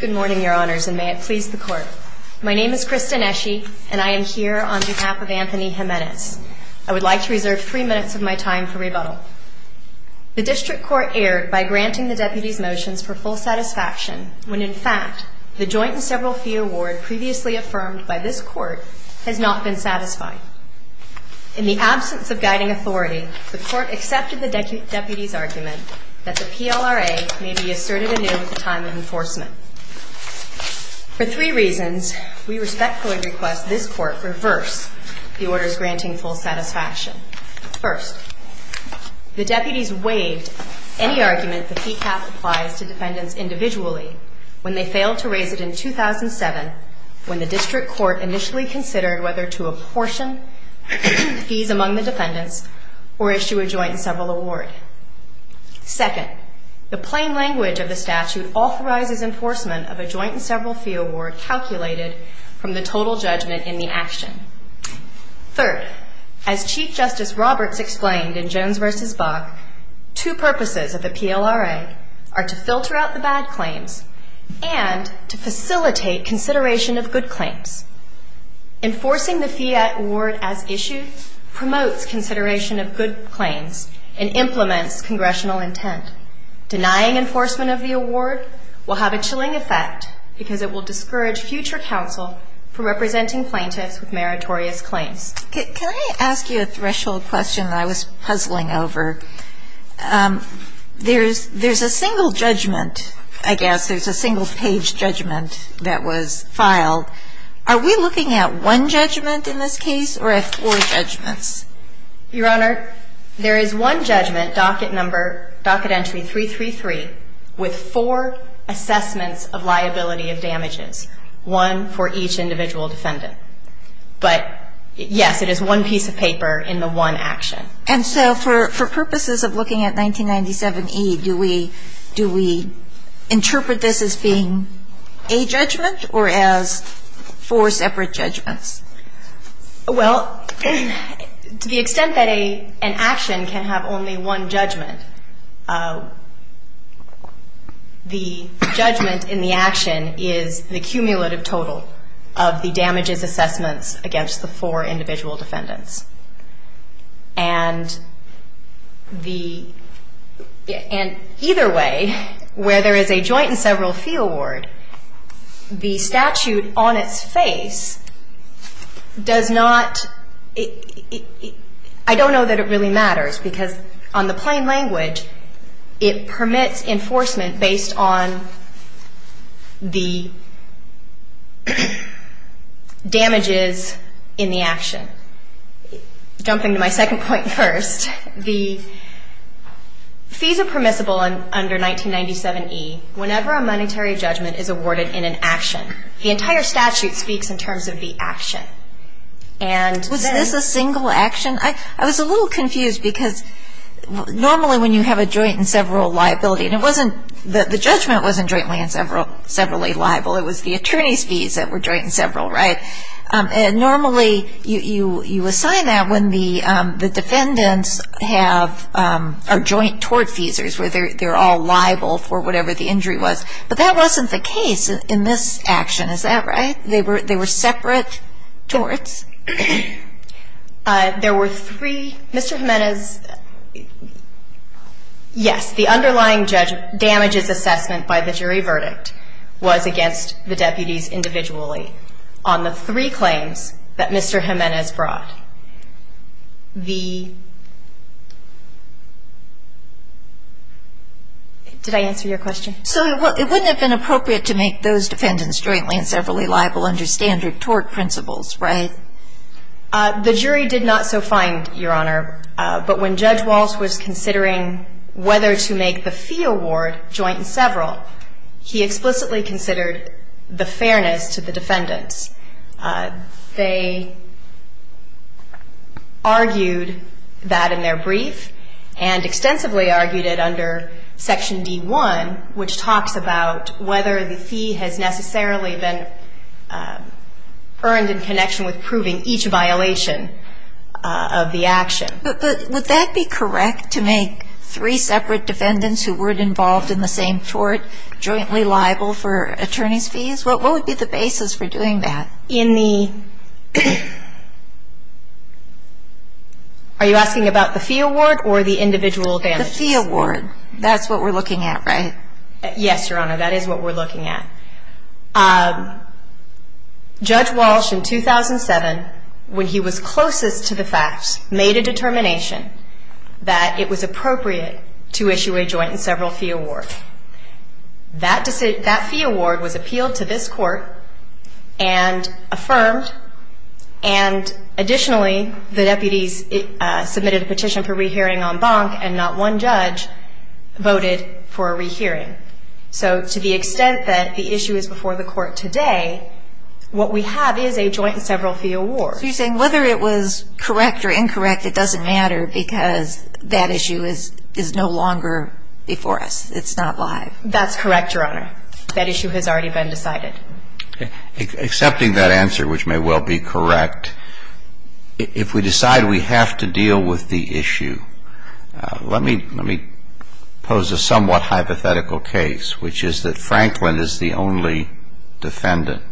Good morning, your honors, and may it please the court. My name is Krista Nesci, and I am here on behalf of Anthony Jimenez. I would like to reserve three minutes of my time for rebuttal. The district court erred by granting the deputies motions for full satisfaction when, in fact, the joint and several fee award previously affirmed by this court has not been satisfied. In the absence of guiding authority, the court accepted the deputies' argument that the PLRA may be asserted anew at the time of enforcement. For three reasons, we respectfully request this court reverse the orders granting full satisfaction. First, the deputies waived any argument the fee cap applies to defendants individually when they failed to raise it in 2007 when the district court initially considered whether to apportion fees among the defendants or issue a joint and several award. Second, the plain language of the statute authorizes enforcement of a joint and several fee award calculated from the total judgment in the action. Third, as Chief Justice Roberts explained in Jones v. Bach, two purposes of the PLRA are to filter out the bad claims and to facilitate consideration of good claims. Enforcing the fee award as issued promotes consideration of good claims and implements congressional intent. Denying enforcement of the award will have a chilling effect because it will discourage future counsel from representing plaintiffs with meritorious claims. Can I ask you a threshold question that I was puzzling over? There's a single judgment, I guess, there's a single page judgment that was filed. Are we looking at one judgment in this case or at four judgments? Your Honor, there is one judgment, docket number, docket entry 333, with four assessments of liability of damages, one for each individual defendant. But, yes, it is one piece of paper in the one action. And so for purposes of looking at 1997E, do we interpret this as being a judgment or as four separate judgments? Well, to the extent that an action can have only one judgment, the judgment in the action is the cumulative total of the damages assessments against the four individual defendants. And either way, where there is a joint and several fee award, the statute on its face does not, I don't know that it really matters because on the plain language it permits enforcement based on the damages in the action. Jumping to my second point first, the fees are permissible under 1997E whenever a monetary judgment is awarded in an action. The entire statute speaks in terms of the action. Was this a single action? I was a little confused because normally when you have a joint and several liability, and the judgment wasn't jointly and severally liable, it was the attorney's fees that were joint and several, right? And normally you assign that when the defendants have joint tort fees where they're all liable for whatever the injury was. But that wasn't the case in this action, is that right? They were separate torts? There were three. Mr. Jimenez, yes, the underlying damages assessment by the jury verdict was against the deputies individually. On the three claims that Mr. Jimenez brought, the — did I answer your question? So it wouldn't have been appropriate to make those defendants jointly and severally liable under standard tort principles, right? The jury did not so find, Your Honor. But when Judge Walsh was considering whether to make the fee award joint and several, he explicitly considered the fairness to the defendants. They argued that in their brief and extensively argued it under Section D-1, which talks about whether the fee has necessarily been earned in connection with proving each violation of the action. But would that be correct, to make three separate defendants who weren't involved in the same tort jointly liable for attorney's fees? What would be the basis for doing that? In the — are you asking about the fee award or the individual damages? The fee award. That's what we're looking at, right? Yes, Your Honor, that is what we're looking at. Judge Walsh, in 2007, when he was closest to the facts, made a determination that it was appropriate to issue a joint and several fee award. That fee award was appealed to this Court and affirmed. And additionally, the deputies submitted a petition for rehearing en banc and not one judge voted for a rehearing. So to the extent that the issue is before the Court today, what we have is a joint and several fee award. So you're saying whether it was correct or incorrect, it doesn't matter because that issue is no longer before us. It's not live. That's correct, Your Honor. That issue has already been decided. Accepting that answer, which may well be correct, if we decide we have to deal with the issue, let me pose a somewhat hypothetical case, which is that Franklin is the only defendant.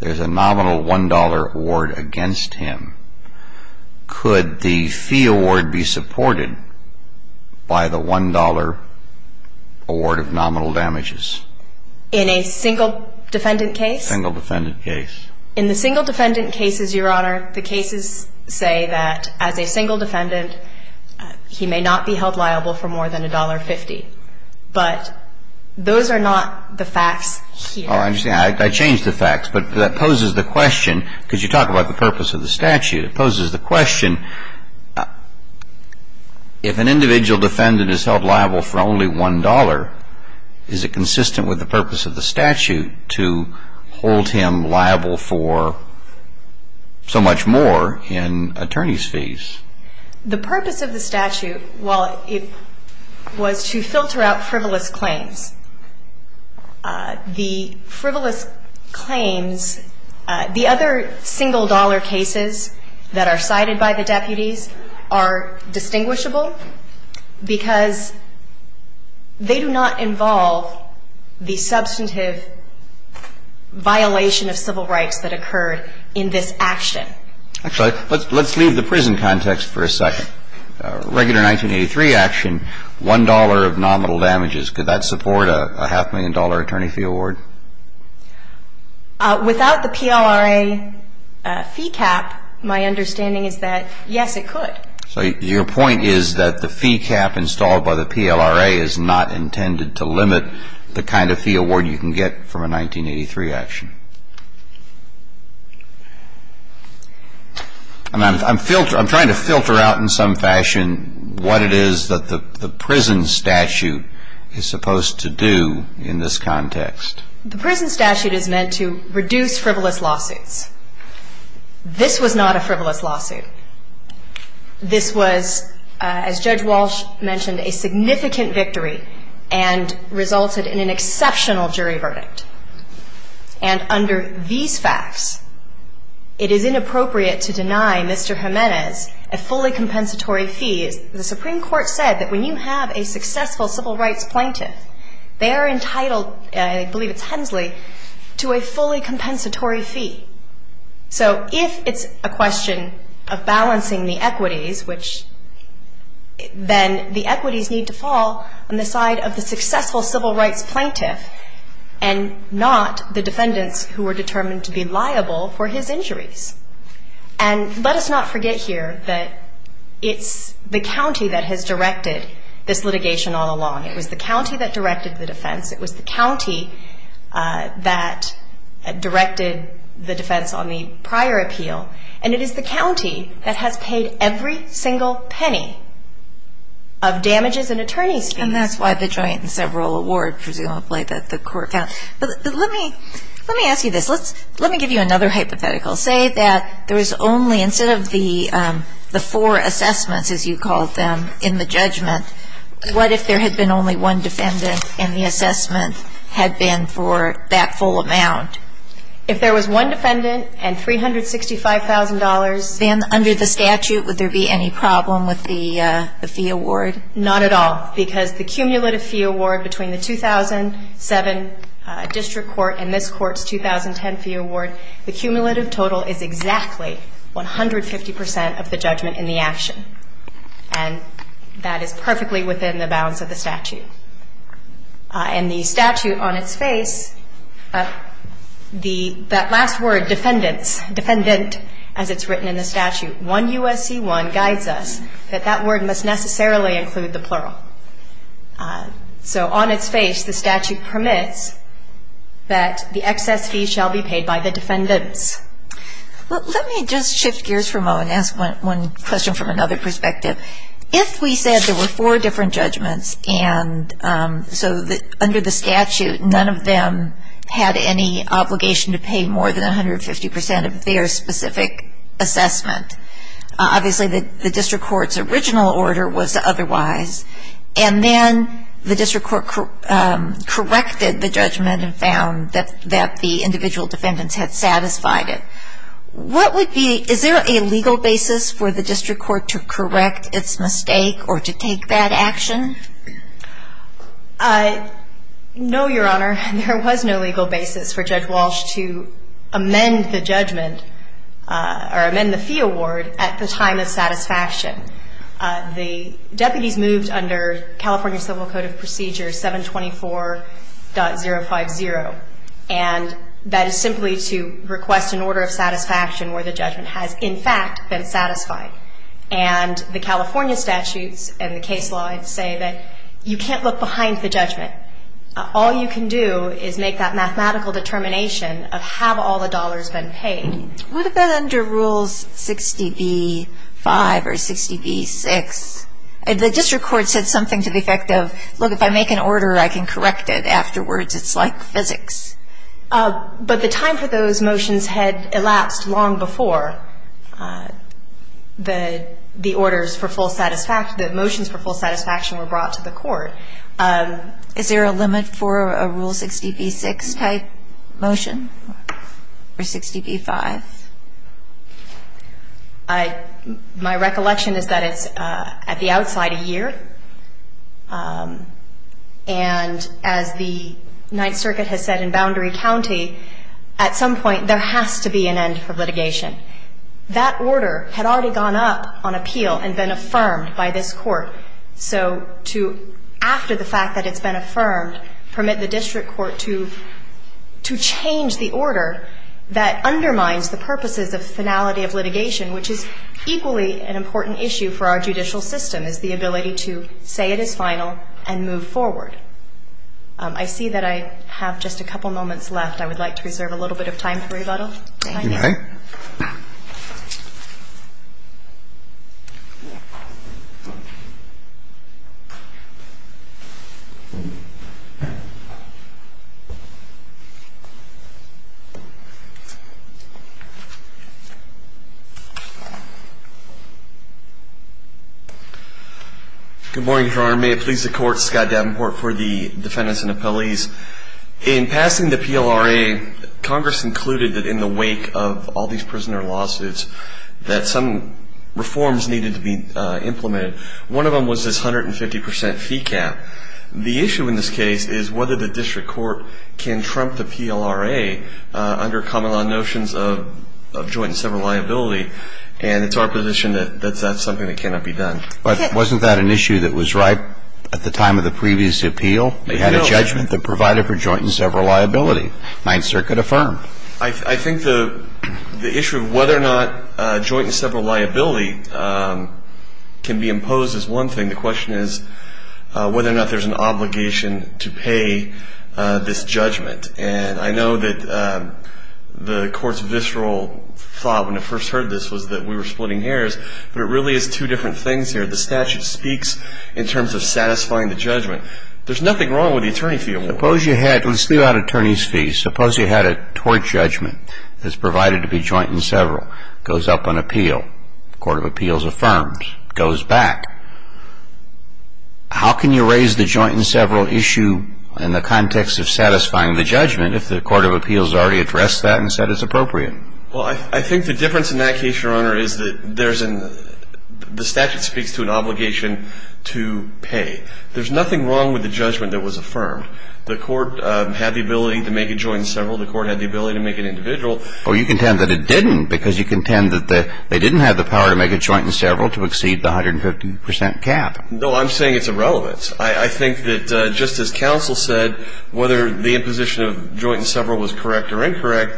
There's a nominal $1 award against him. Could the fee award be supported by the $1 award of nominal damages? In a single defendant case? Single defendant case. In the single defendant cases, Your Honor, the cases say that as a single defendant, he may not be held liable for more than $1.50. But those are not the facts here. I changed the facts, but that poses the question, because you talk about the purpose of the statute. It poses the question, if an individual defendant is held liable for only $1, is it consistent with the purpose of the statute to hold him liable for so much more in attorney's fees? The purpose of the statute, while it was to filter out frivolous claims, the frivolous claims, the other single-dollar cases that are cited by the deputies are distinguishable because they do not involve the substantive violation of civil rights that occurred in this action. Actually, let's leave the prison context for a second. In a regular 1983 action, $1 of nominal damages, could that support a half-million-dollar attorney fee award? Without the PLRA fee cap, my understanding is that, yes, it could. So your point is that the fee cap installed by the PLRA is not intended to limit the kind of fee award you can get from a 1983 action. I'm trying to filter out in some fashion what it is that the prison statute is supposed to do in this context. The prison statute is meant to reduce frivolous lawsuits. This was not a frivolous lawsuit. This was, as Judge Walsh mentioned, a significant victory and resulted in an exceptional jury verdict. And under these facts, it is inappropriate to deny Mr. Jimenez a fully compensatory fee. The Supreme Court said that when you have a successful civil rights plaintiff, they are entitled, I believe it's Hensley, to a fully compensatory fee. So if it's a question of balancing the equities, which then the equities need to fall on the side of the successful civil rights plaintiff and not the defendants who were determined to be liable for his injuries. And let us not forget here that it's the county that has directed this litigation all along. It was the county that directed the defense. It was the county that directed the defense on the prior appeal. And it is the county that has paid every single penny of damages and attorney's fees. And that's why the joint and several award presumably that the court found. But let me ask you this. Let me give you another hypothetical. Say that there was only, instead of the four assessments, as you called them, in the judgment, what if there had been only one defendant and the assessment had been for that full amount? If there was one defendant and $365,000. Then under the statute, would there be any problem with the fee award? Not at all, because the cumulative fee award between the 2007 district court and this court's 2010 fee award, the cumulative total is exactly 150% of the judgment in the action. And that is perfectly within the balance of the statute. And the statute on its face, that last word, defendants, defendant, as it's written in the statute, 1 U.S.C. 1 guides us that that word must necessarily include the plural. So on its face, the statute permits that the excess fee shall be paid by the defendants. Let me just shift gears for a moment and ask one question from another perspective. If we said there were four different judgments, and so under the statute, none of them had any obligation to pay more than 150% of their specific assessment, obviously the district court's original order was otherwise. And then the district court corrected the judgment and found that the individual defendants had satisfied it. What would be, is there a legal basis for the district court to correct its mistake or to take that action? No, Your Honor, there was no legal basis for Judge Walsh to amend the judgment or amend the fee award at the time of satisfaction. The deputies moved under California Civil Code of Procedures 724.050, and that is simply to request an order of satisfaction where the judgment has, in fact, been satisfied. And the California statutes and the case law say that you can't look behind the judgment. All you can do is make that mathematical determination of have all the dollars been paid. What about under Rules 60b-5 or 60b-6? The district court said something to the effect of, look, if I make an order, I can correct it afterwards. It's like physics. But the time for those motions had elapsed long before. So the orders for full satisfaction, the motions for full satisfaction were brought to the court. Is there a limit for a Rule 60b-6 type motion or 60b-5? My recollection is that it's at the outside a year. And as the Ninth Circuit has said in Boundary County, at some point there has to be an end for litigation. That order had already gone up on appeal and been affirmed by this Court. So to, after the fact that it's been affirmed, permit the district court to change the order that undermines the purposes of finality of litigation, which is equally an important issue for our judicial system, is the ability to say it is final and move forward. I see that I have just a couple moments left. I would like to reserve a little bit of time for rebuttal. Okay. Good morning, Your Honor. May it please the Court, Scott Davenport for the defendants and appellees. In passing the PLRA, Congress included that in the wake of all these prisoner lawsuits, that some reforms needed to be implemented. One of them was this 150 percent fee cap. The issue in this case is whether the district court can trump the PLRA under common law notions of joint and several liability. And it's our position that that's not something that cannot be done. But wasn't that an issue that was ripe at the time of the previous appeal? We had a judgment that provided for joint and several liability. Ninth Circuit affirmed. I think the issue of whether or not joint and several liability can be imposed is one thing. The question is whether or not there's an obligation to pay this judgment. And I know that the Court's visceral thought when it first heard this was that we were splitting hairs. But it really is two different things here. The statute speaks in terms of satisfying the judgment. There's nothing wrong with the attorney fee award. Suppose you had, let's leave out attorney's fees, suppose you had a tort judgment that's provided to be joint and several. It goes up on appeal. The Court of Appeals affirms. It goes back. How can you raise the joint and several issue in the context of satisfying the judgment if the Court of Appeals already addressed that and said it's appropriate? Well, I think the difference in that case, Your Honor, is that there's an ‑‑ the statute speaks to an obligation to pay. There's nothing wrong with the judgment that was affirmed. The Court had the ability to make it joint and several. The Court had the ability to make it individual. Oh, you contend that it didn't because you contend that they didn't have the power to make it joint and several to exceed the 150 percent cap. No, I'm saying it's irrelevant. I think that just as counsel said, whether the imposition of joint and several was correct or incorrect,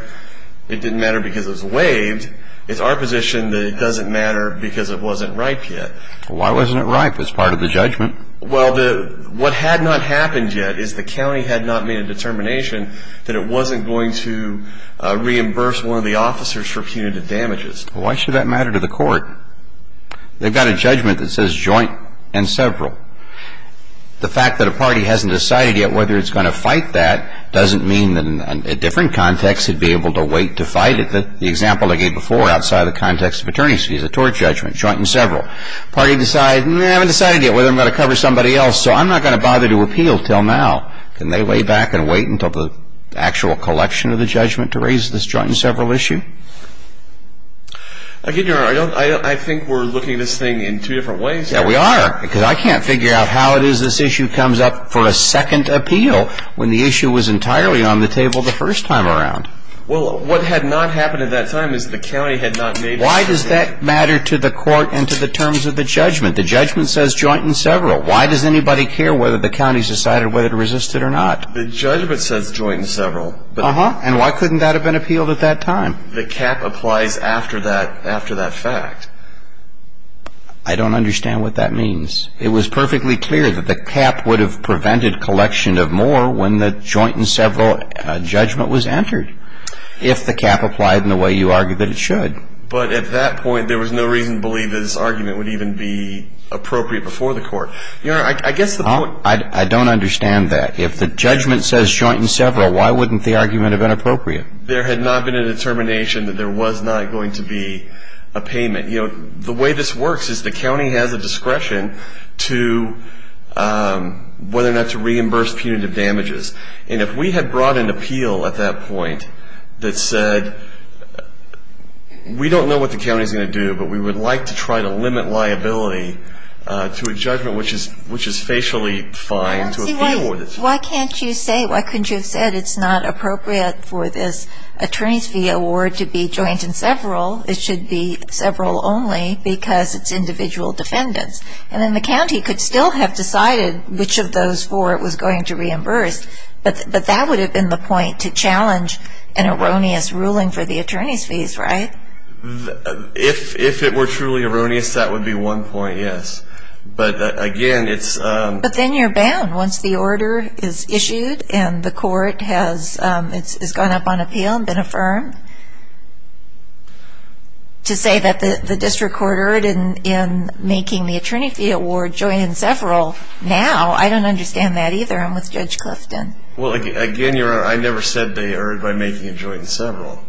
it didn't matter because it was waived. It's our position that it doesn't matter because it wasn't ripe yet. Why wasn't it ripe as part of the judgment? Well, what had not happened yet is the county had not made a determination that it wasn't going to reimburse one of the officers for punitive damages. Why should that matter to the court? They've got a judgment that says joint and several. The fact that a party hasn't decided yet whether it's going to fight that doesn't mean that in a different context it would be able to wait to fight it. The example I gave before outside of the context of attorney's fees, the tort judgment, joint and several. The party decided, we haven't decided yet whether I'm going to cover somebody else, so I'm not going to bother to appeal until now. Can they lay back and wait until the actual collection of the judgment to raise this joint and several issue? I think we're looking at this thing in two different ways. Yeah, we are because I can't figure out how it is this issue comes up for a second appeal when the issue was entirely on the table the first time around. Well, what had not happened at that time is the county had not made a decision. Why does that matter to the court and to the terms of the judgment? The judgment says joint and several. Why does anybody care whether the county has decided whether to resist it or not? The judgment says joint and several. Uh-huh. And why couldn't that have been appealed at that time? The cap applies after that fact. I don't understand what that means. It was perfectly clear that the cap would have prevented collection of more when the joint and several judgment was entered, if the cap applied in the way you argue that it should. But at that point there was no reason to believe that this argument would even be appropriate before the court. Your Honor, I guess the point. I don't understand that. If the judgment says joint and several, why wouldn't the argument have been appropriate? There had not been a determination that there was not going to be a payment. You know, the way this works is the county has a discretion to whether or not to reimburse punitive damages. And if we had brought an appeal at that point that said we don't know what the county is going to do, but we would like to try to limit liability to a judgment which is facially fine to appeal with it. Why can't you say, why couldn't you have said it's not appropriate for this attorney's fee award to be joint and several? It should be several only because it's individual defendants. And then the county could still have decided which of those four it was going to reimburse. But that would have been the point, to challenge an erroneous ruling for the attorney's fees, right? If it were truly erroneous, that would be one point, yes. But again, it's... But then you're bound. Once the order is issued and the court has gone up on appeal and been affirmed, to say that the district court ordered in making the attorney fee award joint and several now, I don't understand that either. What's going on with Judge Clifton? Well, again, Your Honor, I never said they erred by making it joint and several.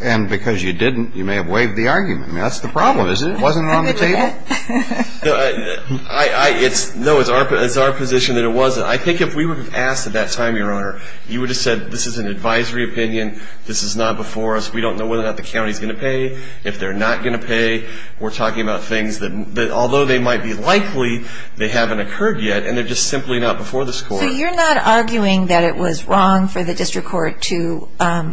And because you didn't, you may have waived the argument. That's the problem, isn't it? Wasn't it on the table? No, it's our position that it wasn't. I think if we would have asked at that time, Your Honor, you would have said this is an advisory opinion, this is not before us, we don't know whether or not the county is going to pay. If they're not going to pay, we're talking about things that although they might be likely, they haven't occurred yet, and they're just simply not before this court. So you're not arguing that it was wrong for the district court to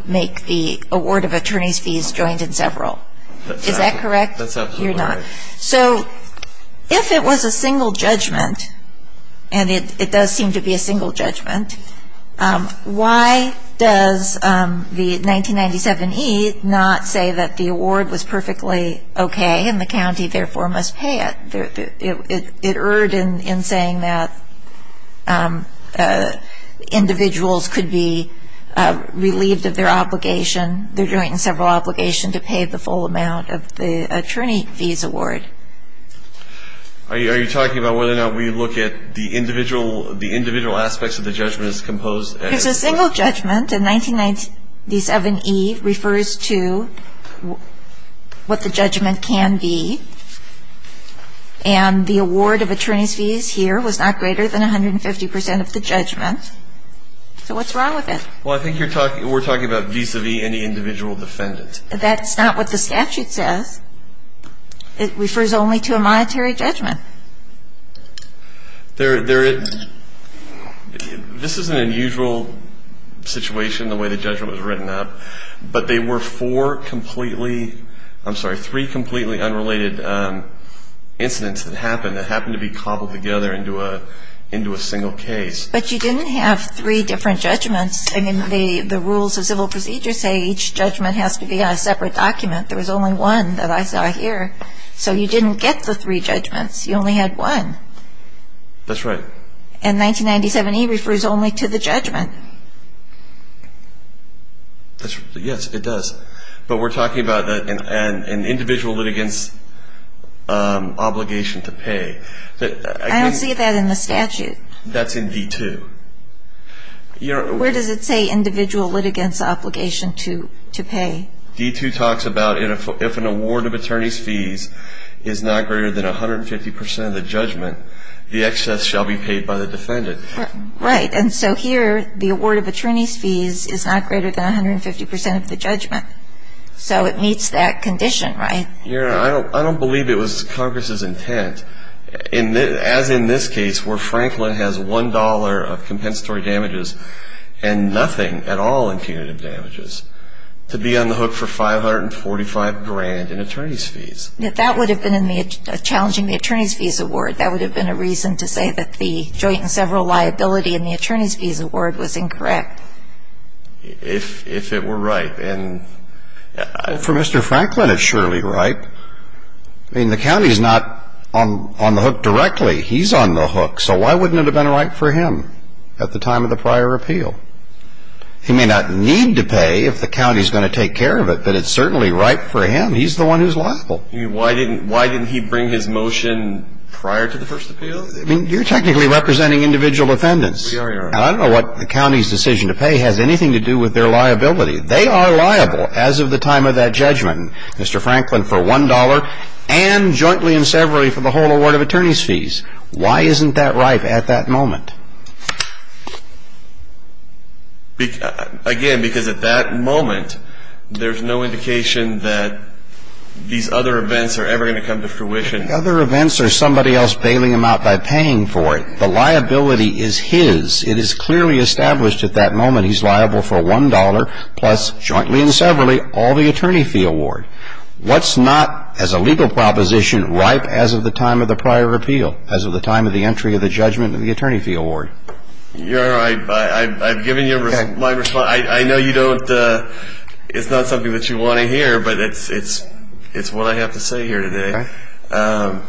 make the award of attorney's fees joint and several. Is that correct? That's absolutely right. You're not. So if it was a single judgment, and it does seem to be a single judgment, why does the 1997E not say that the award was perfectly okay and the county therefore must pay it? It erred in saying that individuals could be relieved of their obligation, their joint and several obligation, to pay the full amount of the attorney fees award. Are you talking about whether or not we look at the individual aspects of the judgment as composed as It's a single judgment, and 1997E refers to what the judgment can be, and the award of attorney's fees here was not greater than 150% of the judgment. So what's wrong with it? Well, I think we're talking about vis-à-vis any individual defendant. That's not what the statute says. It refers only to a monetary judgment. This is an unusual situation, the way the judgment was written up, but there were three completely unrelated incidents that happened that happened to be cobbled together into a single case. But you didn't have three different judgments. I mean, the rules of civil procedure say each judgment has to be on a separate document. There was only one that I saw here. So you didn't get the three judgments. You only had one. That's right. And 1997E refers only to the judgment. Yes, it does. But we're talking about an individual litigant's obligation to pay. I don't see that in the statute. That's in D2. Where does it say individual litigant's obligation to pay? D2 talks about if an award of attorney's fees is not greater than 150% of the judgment, the excess shall be paid by the defendant. Right. And so here the award of attorney's fees is not greater than 150% of the judgment. So it meets that condition, right? Yeah. I don't believe it was Congress's intent, as in this case, where Franklin has $1 of compensatory damages and nothing at all in punitive damages. To be on the hook for $545,000 in attorney's fees. That would have been challenging the attorney's fees award. That would have been a reason to say that the joint and several liability in the attorney's fees award was incorrect. If it were right. For Mr. Franklin, it's surely right. I mean, the county is not on the hook directly. He's on the hook. So why wouldn't it have been right for him at the time of the prior appeal? He may not need to pay if the county is going to take care of it, but it's certainly right for him. He's the one who's liable. Why didn't he bring his motion prior to the first appeal? I mean, you're technically representing individual defendants. I don't know what the county's decision to pay has anything to do with their liability. They are liable as of the time of that judgment, Mr. Franklin, for $1 and jointly and severally for the whole award of attorney's fees. Why isn't that right at that moment? Again, because at that moment, there's no indication that these other events are ever going to come to fruition. The other events are somebody else bailing him out by paying for it. The liability is his. It is clearly established at that moment he's liable for $1 plus jointly and severally all the attorney fee award. What's not, as a legal proposition, right as of the time of the prior appeal, as of the time of the entry of the judgment and the attorney fee award? You're right. I've given you my response. I know you don't – it's not something that you want to hear, but it's what I have to say here today. Okay.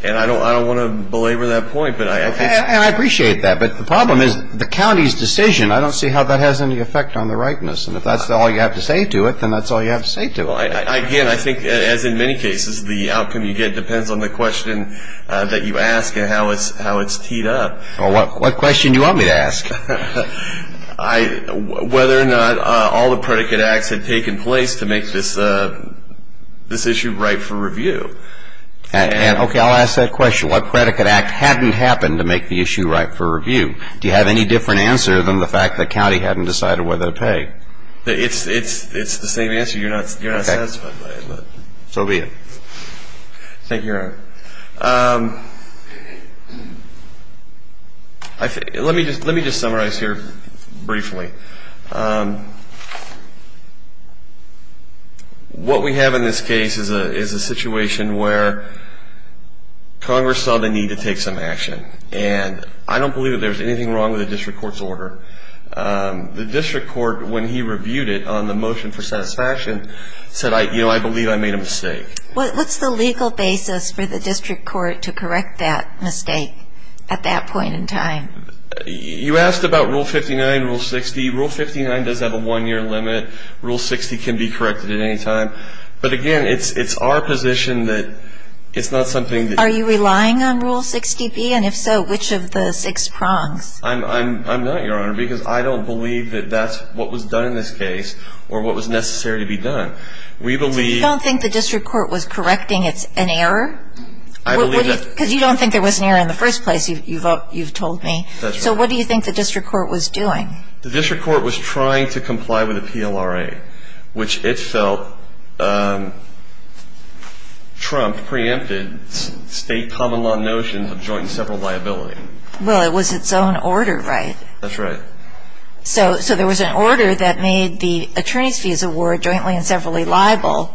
And I don't want to belabor that point, but I think – And I appreciate that. But the problem is the county's decision, I don't see how that has any effect on the rightness. And if that's all you have to say to it, then that's all you have to say to it. Well, again, I think, as in many cases, the outcome you get depends on the question that you ask and how it's teed up. Well, what question do you want me to ask? Whether or not all the predicate acts had taken place to make this issue right for review. Okay, I'll ask that question. What predicate act hadn't happened to make the issue right for review? Do you have any different answer than the fact the county hadn't decided whether to pay? It's the same answer. You're not satisfied by it. So be it. Thank you, Your Honor. Let me just summarize here briefly. What we have in this case is a situation where Congress saw the need to take some action. And I don't believe that there was anything wrong with the district court's order. The district court, when he reviewed it on the motion for satisfaction, said, you know, I believe I made a mistake. What's the legal basis for the district court to correct that mistake at that point in time? You asked about Rule 59, Rule 60. Rule 59 does have a one-year limit. Rule 60 can be corrected at any time. But, again, it's our position that it's not something that you can do. Are you relying on Rule 60B? And if so, which of the six prongs? I'm not, Your Honor, because I don't believe that that's what was done in this case or what was necessary to be done. We believe — You don't think the district court was correcting an error? I believe that — Because you don't think there was an error in the first place, you've told me. That's right. So what do you think the district court was doing? The district court was trying to comply with a PLRA, which it felt Trump preempted state common law notions of joint and several liability. Well, it was its own order, right? That's right. So there was an order that made the attorney's fees award jointly and severally liable.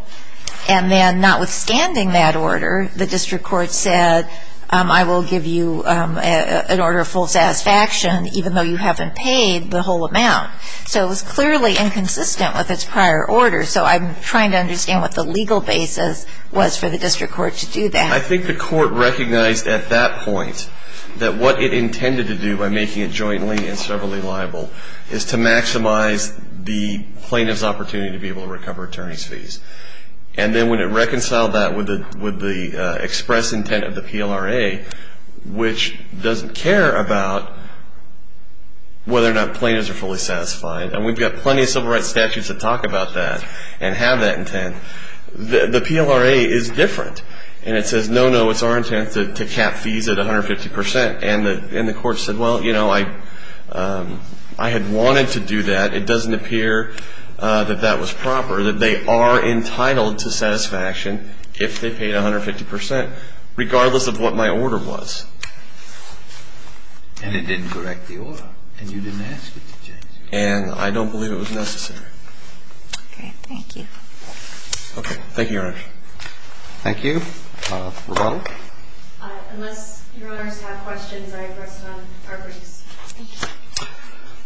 And then, notwithstanding that order, the district court said, I will give you an order of full satisfaction even though you haven't paid the whole amount. So it was clearly inconsistent with its prior order. So I'm trying to understand what the legal basis was for the district court to do that. I think the court recognized at that point that what it intended to do by making it jointly and severally liable is to maximize the plaintiff's opportunity to be able to recover attorney's fees. And then when it reconciled that with the express intent of the PLRA, which doesn't care about whether or not plaintiffs are fully satisfied, and we've got plenty of civil rights statutes that talk about that and have that intent, the PLRA is different. And it says, no, no, it's our intent to cap fees at 150 percent. And the court said, well, you know, I had wanted to do that. It doesn't appear that that was proper, that they are entitled to satisfaction if they paid 150 percent, regardless of what my order was. And it didn't correct the order, and you didn't ask it to change it. And I don't believe it was necessary. Okay. Thank you. Okay. Thank you, Your Honors. Thank you. Rebuttal? Unless Your Honors have questions, I press it on Arbery's. Thank you.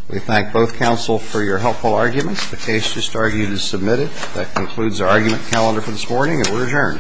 We thank both counsel for your helpful arguments. The case just argued is submitted. That concludes our argument calendar for this morning, and we're adjourned. Time to start the week.